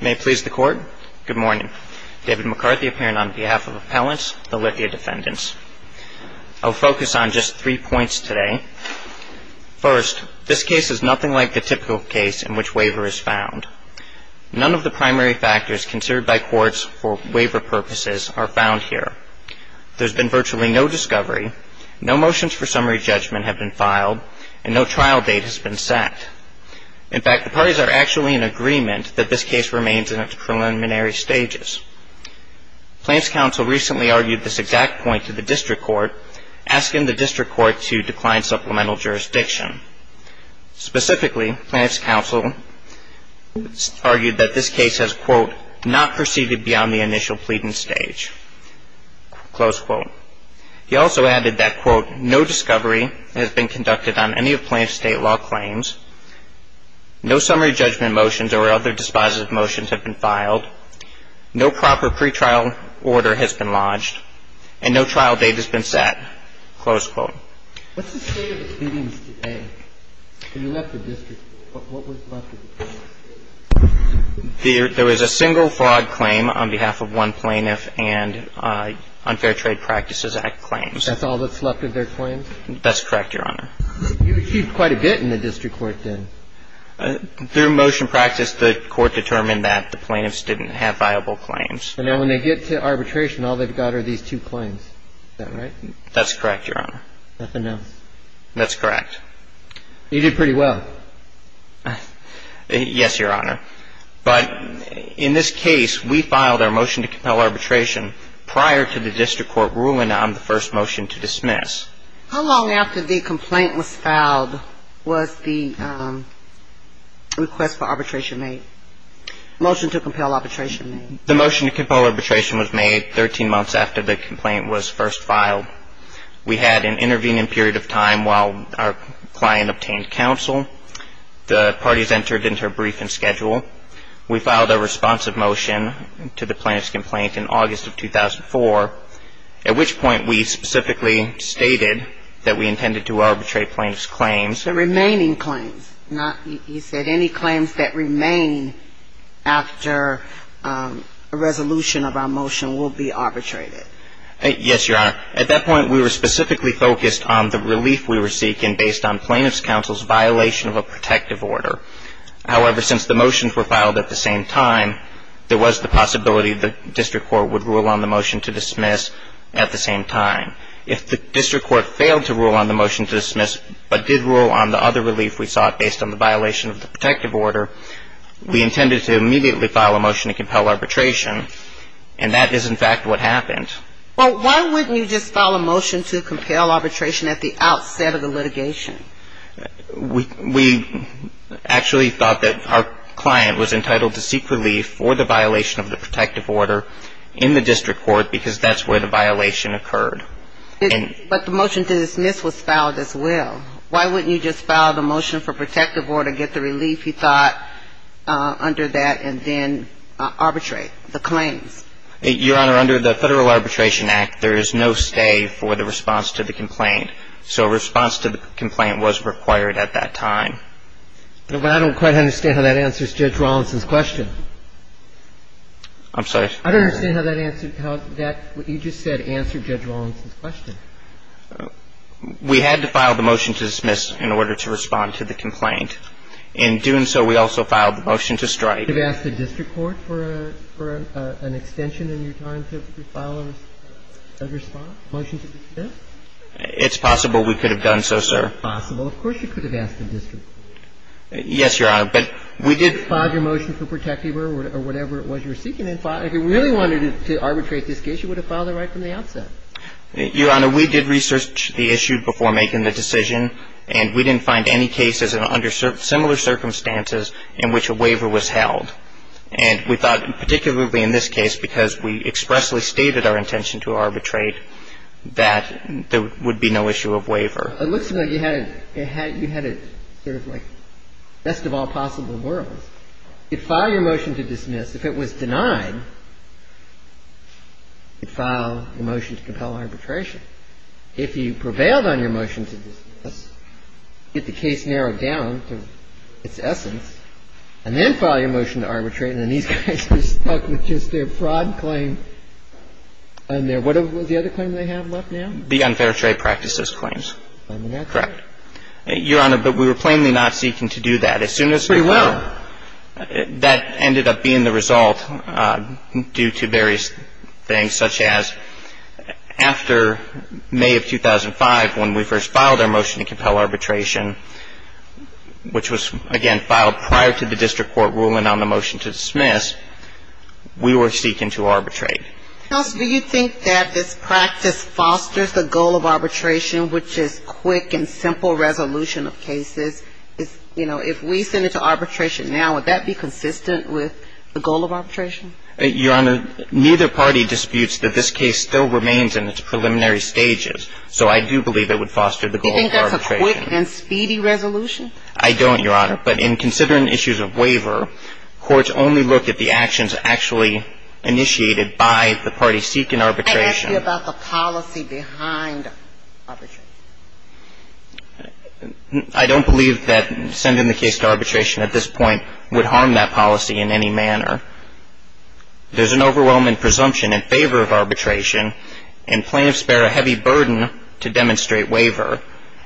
May it please the Court, good morning. David McCarthy appearing on behalf of Appellants, the Lithia Defendants. I'll focus on just three points today. First, this case is nothing like the typical case in which waiver is found. None of the primary factors considered by courts for waiver purposes are found here. There's been virtually no discovery, no motions for summary judgment have been filed, and no trial date has been set. In fact, the parties are actually in agreement that this case remains in its preliminary stages. Plaintiff's counsel recently argued this exact point to the District Court, asking the District Court to decline supplemental jurisdiction. Specifically, Plaintiff's counsel argued that this case has, quote, not proceeded beyond the initial pleading stage, close quote. He also added that, quote, no discovery has been conducted on any of Plaintiff's state law claims, no summary judgment motions or other dispositive motions have been filed, no proper pretrial order has been lodged, and no trial date has been set, close quote. What's the state of the pleadings today? When you left the District, what was left of the pleadings? There was a single fraud claim on behalf of one plaintiff and Unfair Trade Practices Act claims. That's all that's left of their claims? That's correct, Your Honor. You achieved quite a bit in the District Court, then. Through motion practice, the Court determined that the plaintiffs didn't have viable claims. And then when they get to arbitration, all they've got are these two claims. Is that right? That's correct, Your Honor. Nothing else? That's correct. You did pretty well. Yes, Your Honor. But in this case, we filed our motion to compel arbitration prior to the District Court ruling on the first motion to dismiss. How long after the complaint was filed was the request for arbitration made, motion to compel arbitration made? The motion to compel arbitration was made 13 months after the complaint was first filed. We had an intervening period of time while our client obtained counsel. The parties entered into a briefing schedule. We filed a responsive motion to the plaintiff's complaint in August of 2004, at which point we specifically stated that we intended to arbitrate plaintiff's claims. The remaining claims, not, you said any claims that remain after a resolution of our motion will be arbitrated. Yes, Your Honor. At that point, we were specifically focused on the relief we were seeking based on plaintiff's counsel's violation of a protective order. However, since the motions were filed at the same time, there was the possibility the District Court would rule on the motion to dismiss at the same time. If the District Court failed to rule on the motion to dismiss, but did rule on the other relief we sought based on the violation of the protective order, we intended to immediately file a motion to compel arbitration. And that is, in fact, what happened. Well, why wouldn't you just file a motion to compel arbitration at the outset of the litigation? We actually thought that our client was entitled to seek relief for the violation of the protective order in the District Court because that's where the violation occurred. But the motion to dismiss was filed as well. Why wouldn't you just file the motion for protective order, get the relief you thought under that, and then arbitrate the claims? Your Honor, under the Federal Arbitration Act, there is no stay for the response to the complaint. So a response to the complaint was required at that time. But I don't quite understand how that answers Judge Rawlinson's question. I'm sorry? I don't understand how that answered how that, what you just said, answered Judge Rawlinson's question. We had to file the motion to dismiss in order to respond to the complaint. In doing so, we also filed the motion to strike. You could have asked the District Court for an extension in your time to file a response, a motion to dismiss? It's possible we could have done so, sir. It's possible. Of course you could have asked the District Court. Yes, Your Honor. But we did file your motion for protective order or whatever it was you were seeking. If you really wanted to arbitrate this case, you would have filed it right from the outset. Your Honor, we did research the issue before making the decision, and we didn't find any cases under similar circumstances in which a waiver was held. And we thought, particularly in this case, because we expressly stated our intention to arbitrate, that there would be no issue of waiver. It looks to me like you had it sort of like best of all possible worlds. If you file your motion to dismiss, if it was denied, you file the motion to compel arbitration. If you prevailed on your motion to dismiss, get the case narrowed down to its essence, and then file your motion to arbitrate, and then these guys are stuck with just their fraud claim and their what was the other claim they have left now? The unfair trade practices claims. Correct. Your Honor, but we were plainly not seeking to do that. We were. That ended up being the result due to various things, such as after May of 2005, when we first filed our motion to compel arbitration, which was, again, filed prior to the district court ruling on the motion to dismiss, we were seeking to arbitrate. Do you think that this practice fosters the goal of arbitration, which is quick and simple resolution of cases? You know, if we send it to arbitration now, would that be consistent with the goal of arbitration? Your Honor, neither party disputes that this case still remains in its preliminary stages. So I do believe it would foster the goal of arbitration. Do you think that's a quick and speedy resolution? I don't, Your Honor. But in considering issues of waiver, courts only look at the actions actually initiated by the party seeking arbitration. I asked you about the policy behind arbitration. I don't believe that sending the case to arbitration at this point would harm that policy in any manner. There's an overwhelming presumption in favor of arbitration, and plaintiffs bear a heavy burden to demonstrate waiver.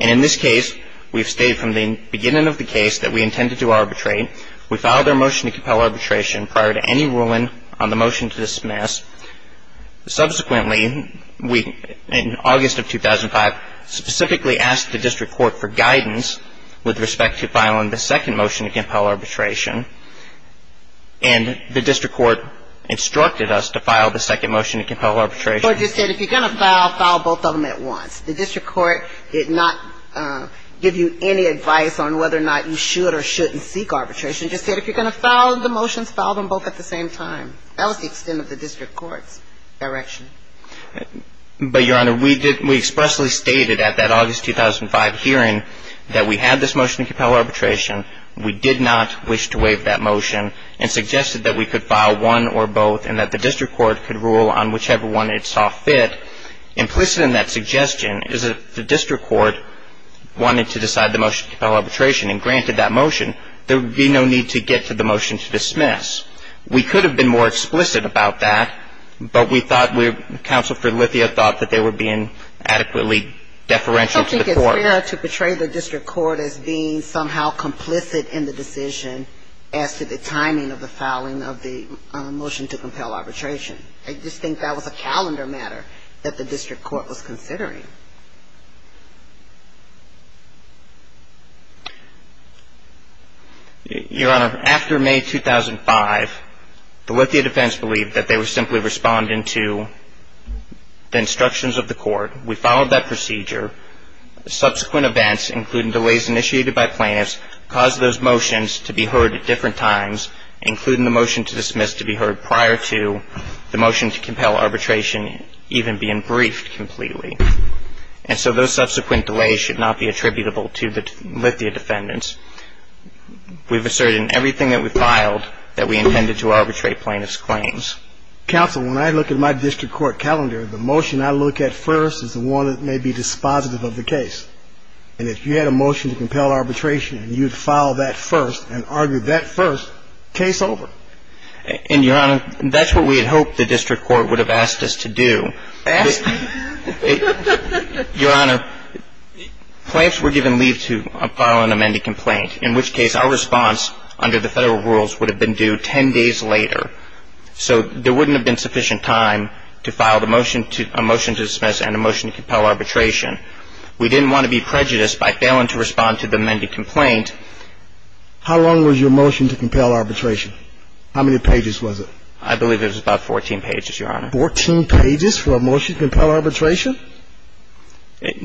And in this case, we've stayed from the beginning of the case that we intended to arbitrate. We filed our motion to compel arbitration prior to any ruling on the motion to dismiss. Subsequently, we, in August of 2005, specifically asked the district court for guidance with respect to filing the second motion to compel arbitration. And the district court instructed us to file the second motion to compel arbitration. The court just said if you're going to file, file both of them at once. The district court did not give you any advice on whether or not you should or shouldn't seek arbitration. It just said if you're going to file the motions, file them both at the same time. That was the extent of the district court's direction. But, Your Honor, we expressly stated at that August 2005 hearing that we had this motion to compel arbitration. We did not wish to waive that motion and suggested that we could file one or both and that the district court could rule on whichever one it saw fit. Implicit in that suggestion is that the district court wanted to decide the motion to compel arbitration. And granted that motion, there would be no need to get to the motion to dismiss. We could have been more explicit about that, but we thought, Counsel for Lithia thought that they were being adequately deferential to the court. I don't think it's fair to portray the district court as being somehow complicit in the decision as to the timing of the filing of the motion to compel arbitration. I just think that was a calendar matter that the district court was considering. Your Honor, after May 2005, the Lithia defense believed that they were simply responding to the instructions of the court. We followed that procedure. Subsequent events, including delays initiated by plaintiffs, caused those motions to be heard at different times, including the motion to dismiss to be heard prior to the motion to compel arbitration even being briefed completely. And so those subsequent delays should not be attributable to the Lithia defendants. We've asserted in everything that we filed that we intended to arbitrate plaintiffs' claims. Counsel, when I look at my district court calendar, the motion I look at first is the one that may be dispositive of the case. And if you had a motion to compel arbitration and you'd file that first and argue that first, case over. And, Your Honor, that's what we had hoped the district court would have asked us to do. Your Honor, plaintiffs were given leave to file an amended complaint, in which case our response under the federal rules would have been due 10 days later. So there wouldn't have been sufficient time to file a motion to dismiss and a motion to compel arbitration. We didn't want to be prejudiced by failing to respond to the amended complaint. How long was your motion to compel arbitration? How many pages was it? I believe it was about 14 pages, Your Honor. About 14 pages for a motion to compel arbitration?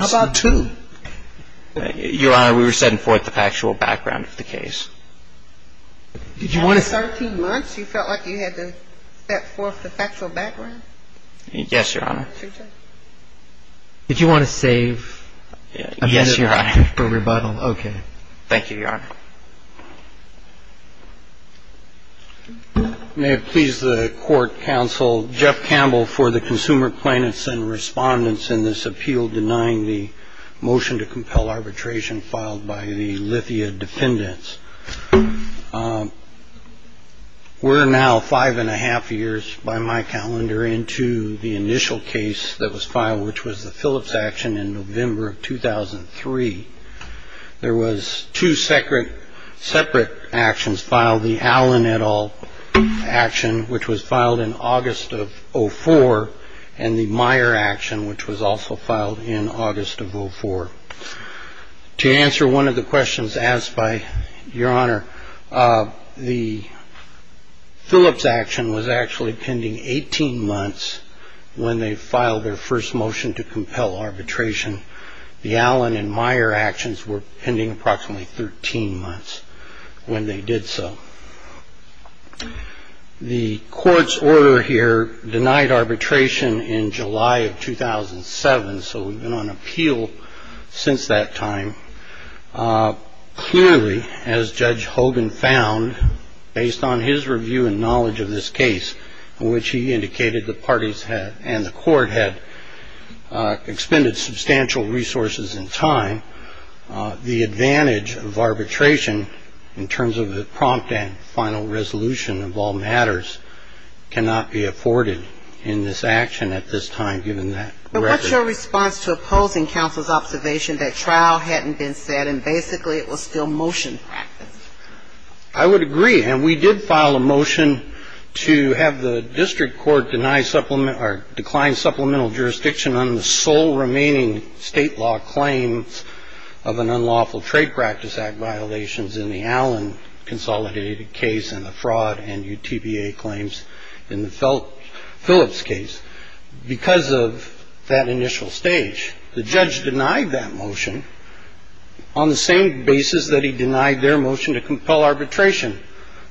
How about two? Your Honor, we were setting forth the factual background of the case. After 13 months, you felt like you had to set forth the factual background? Yes, Your Honor. Did you want to save? Yes, Your Honor. For rebuttal. Okay. Thank you, Your Honor. May it please the court, counsel, Jeff Campbell for the consumer plaintiffs and respondents in this appeal denying the motion to compel arbitration filed by the Lithia dependents. We're now five and a half years by my calendar into the initial case that was filed, which was the Phillips action in November of 2003. There was two separate actions filed, the Allen et al. action, which was filed in August of 04, and the Meyer action, which was also filed in August of 04. To answer one of the questions asked by Your Honor, the Phillips action was actually pending 18 months when they filed their first motion to compel arbitration. The Allen and Meyer actions were pending approximately 13 months when they did so. The court's order here denied arbitration in July of 2007. So we've been on appeal since that time. Clearly, as Judge Hogan found, based on his review and knowledge of this case, which he indicated the parties had and the court had expended substantial resources and time, the advantage of arbitration in terms of the prompt and final resolution of all matters cannot be afforded in this action at this time, given that record. But what's your response to opposing counsel's observation that trial hadn't been set and basically it was still motion practice? I would agree, and we did file a motion to have the district court decline supplemental jurisdiction on the sole remaining state law claims of an unlawful trade practice act violations in the Allen consolidated case and the fraud and UTBA claims in the Phillips case. Because of that initial stage, the judge denied that motion on the same basis that he denied their motion to compel arbitration.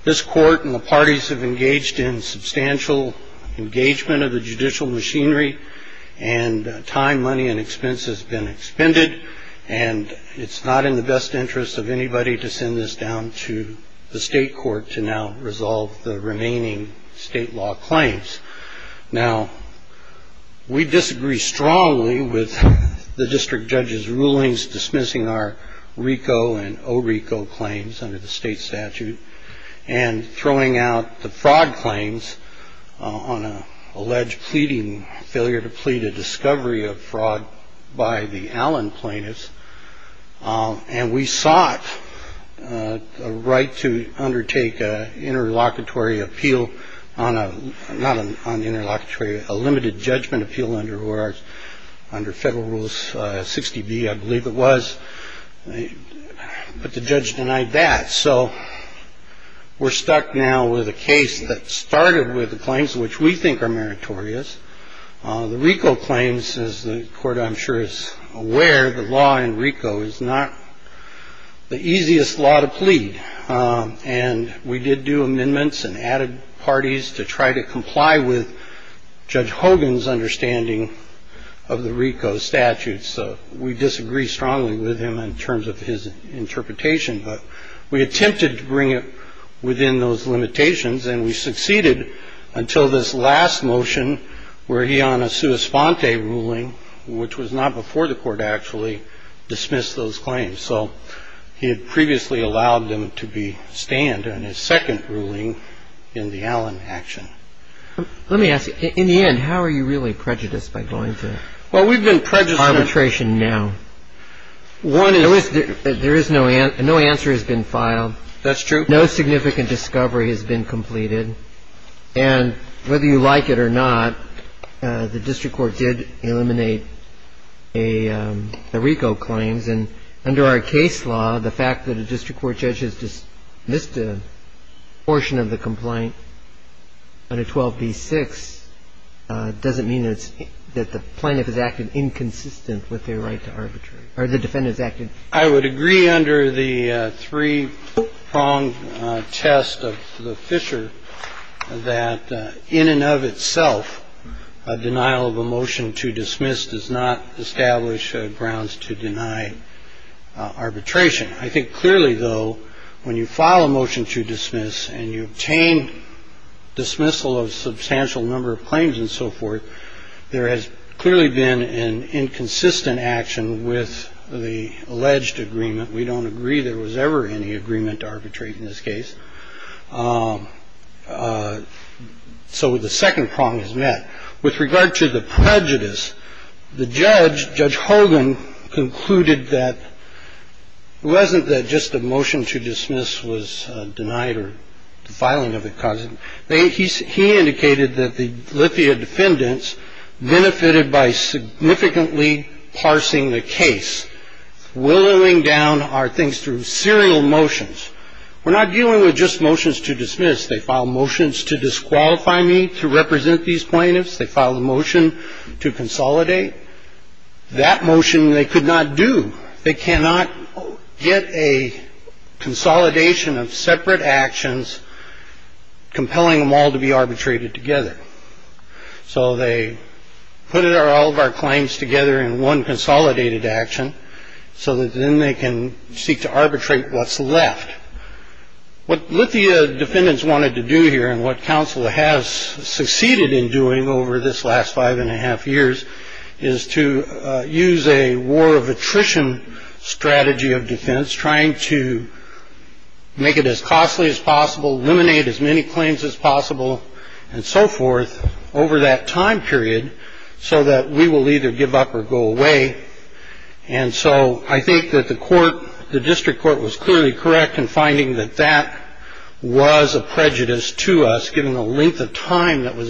This court and the parties have engaged in substantial engagement of the judicial machinery and time, money and expense has been expended, and it's not in the best interest of anybody to send this down to the state court to now resolve the remaining state law claims. Now, we disagree strongly with the district judge's rulings dismissing our RICO and ORICO claims under the state statute and throwing out the fraud claims on an alleged pleading failure to plead a discovery of fraud by the Allen plaintiffs. And we sought a right to undertake a interlocutory appeal on a not on the interlocutory, a limited judgment appeal under our under federal rules. Sixty B, I believe it was. But the judge denied that. So we're stuck now with a case that started with the claims which we think are meritorious. The RICO claims, as the court I'm sure is aware, the law in RICO is not the easiest law to plead. And we did do amendments and added parties to try to comply with Judge Hogan's understanding of the RICO statute. So we disagree strongly with him in terms of his interpretation. But we attempted to bring it within those limitations. And we succeeded until this last motion where he on a sua sponte ruling, which was not before the court actually dismissed those claims. So he had previously allowed them to be stand in his second ruling in the Allen action. Let me ask you, in the end, how are you really prejudiced by going to arbitration now? Well, we've been prejudiced. One is. There is no answer. No answer has been filed. That's true. But no significant discovery has been completed. And whether you like it or not, the district court did eliminate the RICO claims. And under our case law, the fact that a district court judge has dismissed a portion of the complaint under 12b-6 doesn't mean that the plaintiff has acted inconsistent with their right to arbitrate or the defendant has acted. I would agree under the three prong test of the Fisher that in and of itself, a denial of a motion to dismiss does not establish grounds to deny arbitration. I think clearly, though, when you file a motion to dismiss and you obtain dismissal of substantial number of claims and so forth, there has clearly been an inconsistent action with the alleged agreement. We don't agree there was ever any agreement to arbitrate in this case. So the second prong is met with regard to the prejudice. The judge, Judge Hogan, concluded that it wasn't that just a motion to dismiss was denied or filing of a cousin. He indicated that the Lithia defendants benefited by significantly parsing the case, willowing down our things through serial motions. We're not dealing with just motions to dismiss. They filed motions to disqualify me to represent these plaintiffs. They filed a motion to consolidate. That motion they could not do. They cannot get a consolidation of separate actions, compelling them all to be arbitrated together. So they put it or all of our claims together in one consolidated action so that then they can seek to arbitrate what's left. What Lithia defendants wanted to do here and what counsel has succeeded in doing over this last five and a half years is to use a war of attrition strategy of defense, trying to make it as costly as possible, eliminate as many claims as possible and so forth over that time period. So that we will either give up or go away. And so I think that the court, the district court was clearly correct in finding that that was a prejudice to us, to us, and to the case itself. And I think that what our defense could do here and what counsel has succeeded in doing over this last five and a half years, is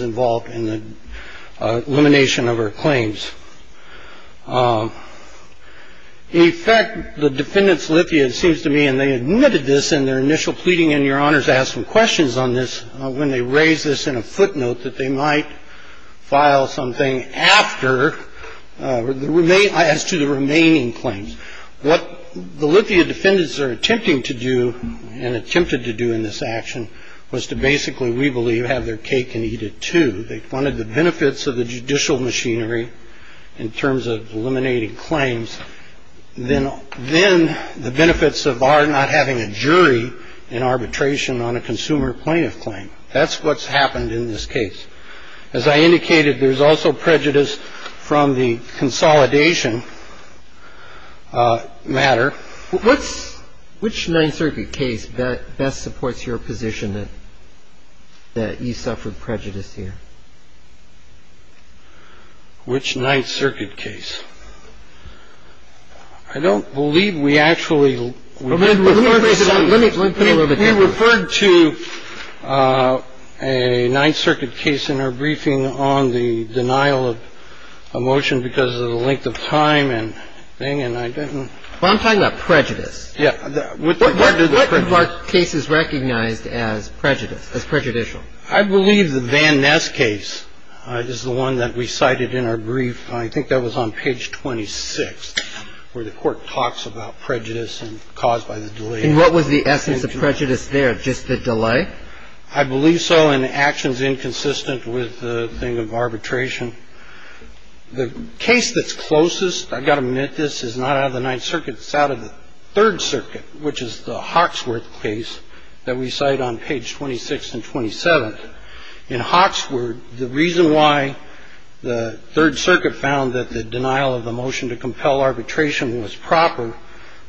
to use a war of attrition strategy of defense, trying to make it as costly as possible, eliminate as many claims as possible, and so forth over that time period. And so I think that the court was correct in finding that that was a prejudice to us, so you have their cake and eat it too. They wanted the benefits of the judicial machinery in terms of eliminating claims, then the benefits of our not having a jury in arbitration on a consumer plaintiff claim. That's what's happened in this case. As I indicated, there's also prejudice from the consolidation matter. What's which Ninth Circuit case that best supports your position that you suffered prejudice here? Which Ninth Circuit case? I don't believe we actually referred to a Ninth Circuit case in our briefing on the denial of a motion because of the length of time and thing, and I didn't. Well, I'm talking about prejudice. Yeah. What are cases recognized as prejudicial? I believe the Van Ness case is the one that we cited in our brief. I think that was on page 26, where the court talks about prejudice and caused by the delay. And what was the essence of prejudice there, just the delay? I believe so, and the action's inconsistent with the thing of arbitration. The case that's closest, I've got to admit this, is not out of the Ninth Circuit. It's out of the Third Circuit, which is the Hawksworth case that we cite on page 26 and 27. In Hawksworth, the reason why the Third Circuit found that the denial of the motion to compel arbitration was proper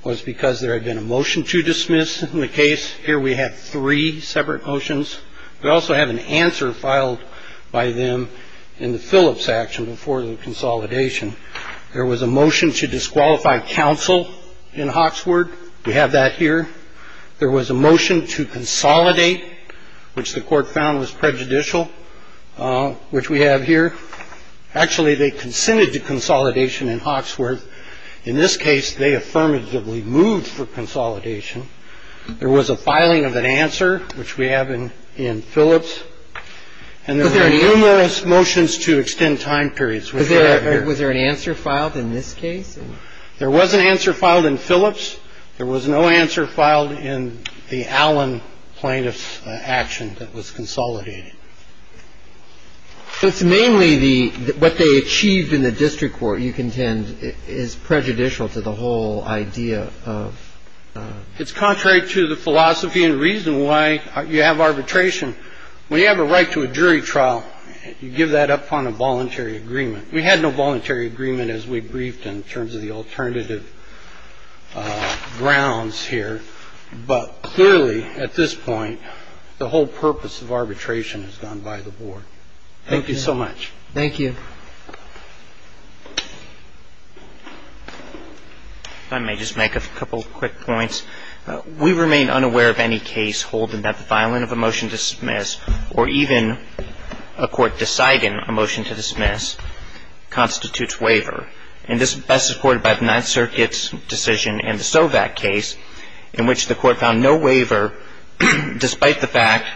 was because there had been a motion to dismiss in the case. Here we have three separate motions. We also have an answer filed by them in the Phillips action before the consolidation. There was a motion to disqualify counsel in Hawksworth. We have that here. There was a motion to consolidate, which the court found was prejudicial, which we have here. Actually, they consented to consolidation in Hawksworth. In this case, they affirmatively moved for consolidation. There was a filing of an answer, which we have in Phillips. And there were numerous motions to extend time periods, which we have here. Was there an answer filed in this case? There was an answer filed in Phillips. There was no answer filed in the Allen plaintiff's action that was consolidated. So it's mainly the what they achieved in the district court, you contend, is prejudicial to the whole idea of consolidation? It's contrary to the philosophy and reason why you have arbitration. When you have a right to a jury trial, you give that up on a voluntary agreement. We had no voluntary agreement, as we briefed, in terms of the alternative grounds here. But clearly, at this point, the whole purpose of arbitration has gone by the board. Thank you so much. Thank you. If I may just make a couple of quick points. We remain unaware of any case holding that the filing of a motion to dismiss, or even a court deciding a motion to dismiss, constitutes waiver. And this is best supported by the Ninth Circuit's decision in the Sovak case, in which the court found no waiver, despite the fact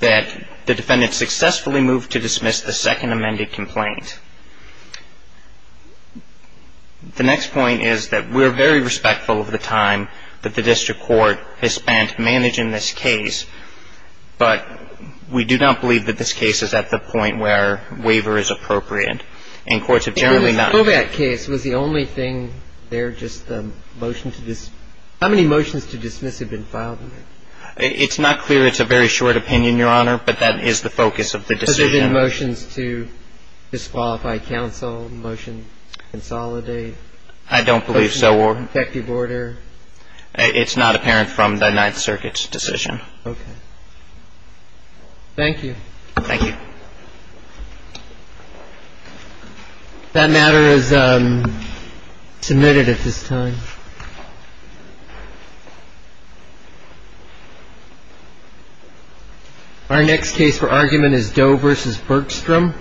that the defendant successfully moved to dismiss the second amended complaint. The next point is that we're very respectful of the time that the district court has spent managing this case. But we do not believe that this case is at the point where waiver is appropriate. And courts have generally not ---- The Sovak case was the only thing there, just the motion to dismiss. How many motions to dismiss have been filed in there? It's not clear. It's a very short opinion, Your Honor. But that is the focus of the decision. Has there been motions to disqualify counsel, motions to consolidate? I don't believe so, Your Honor. Motion to protect the order? It's not apparent from the Ninth Circuit's decision. Okay. Thank you. Thank you. That matter is submitted at this time. Thank you. Our next case for argument is Doe v. Bergstrom.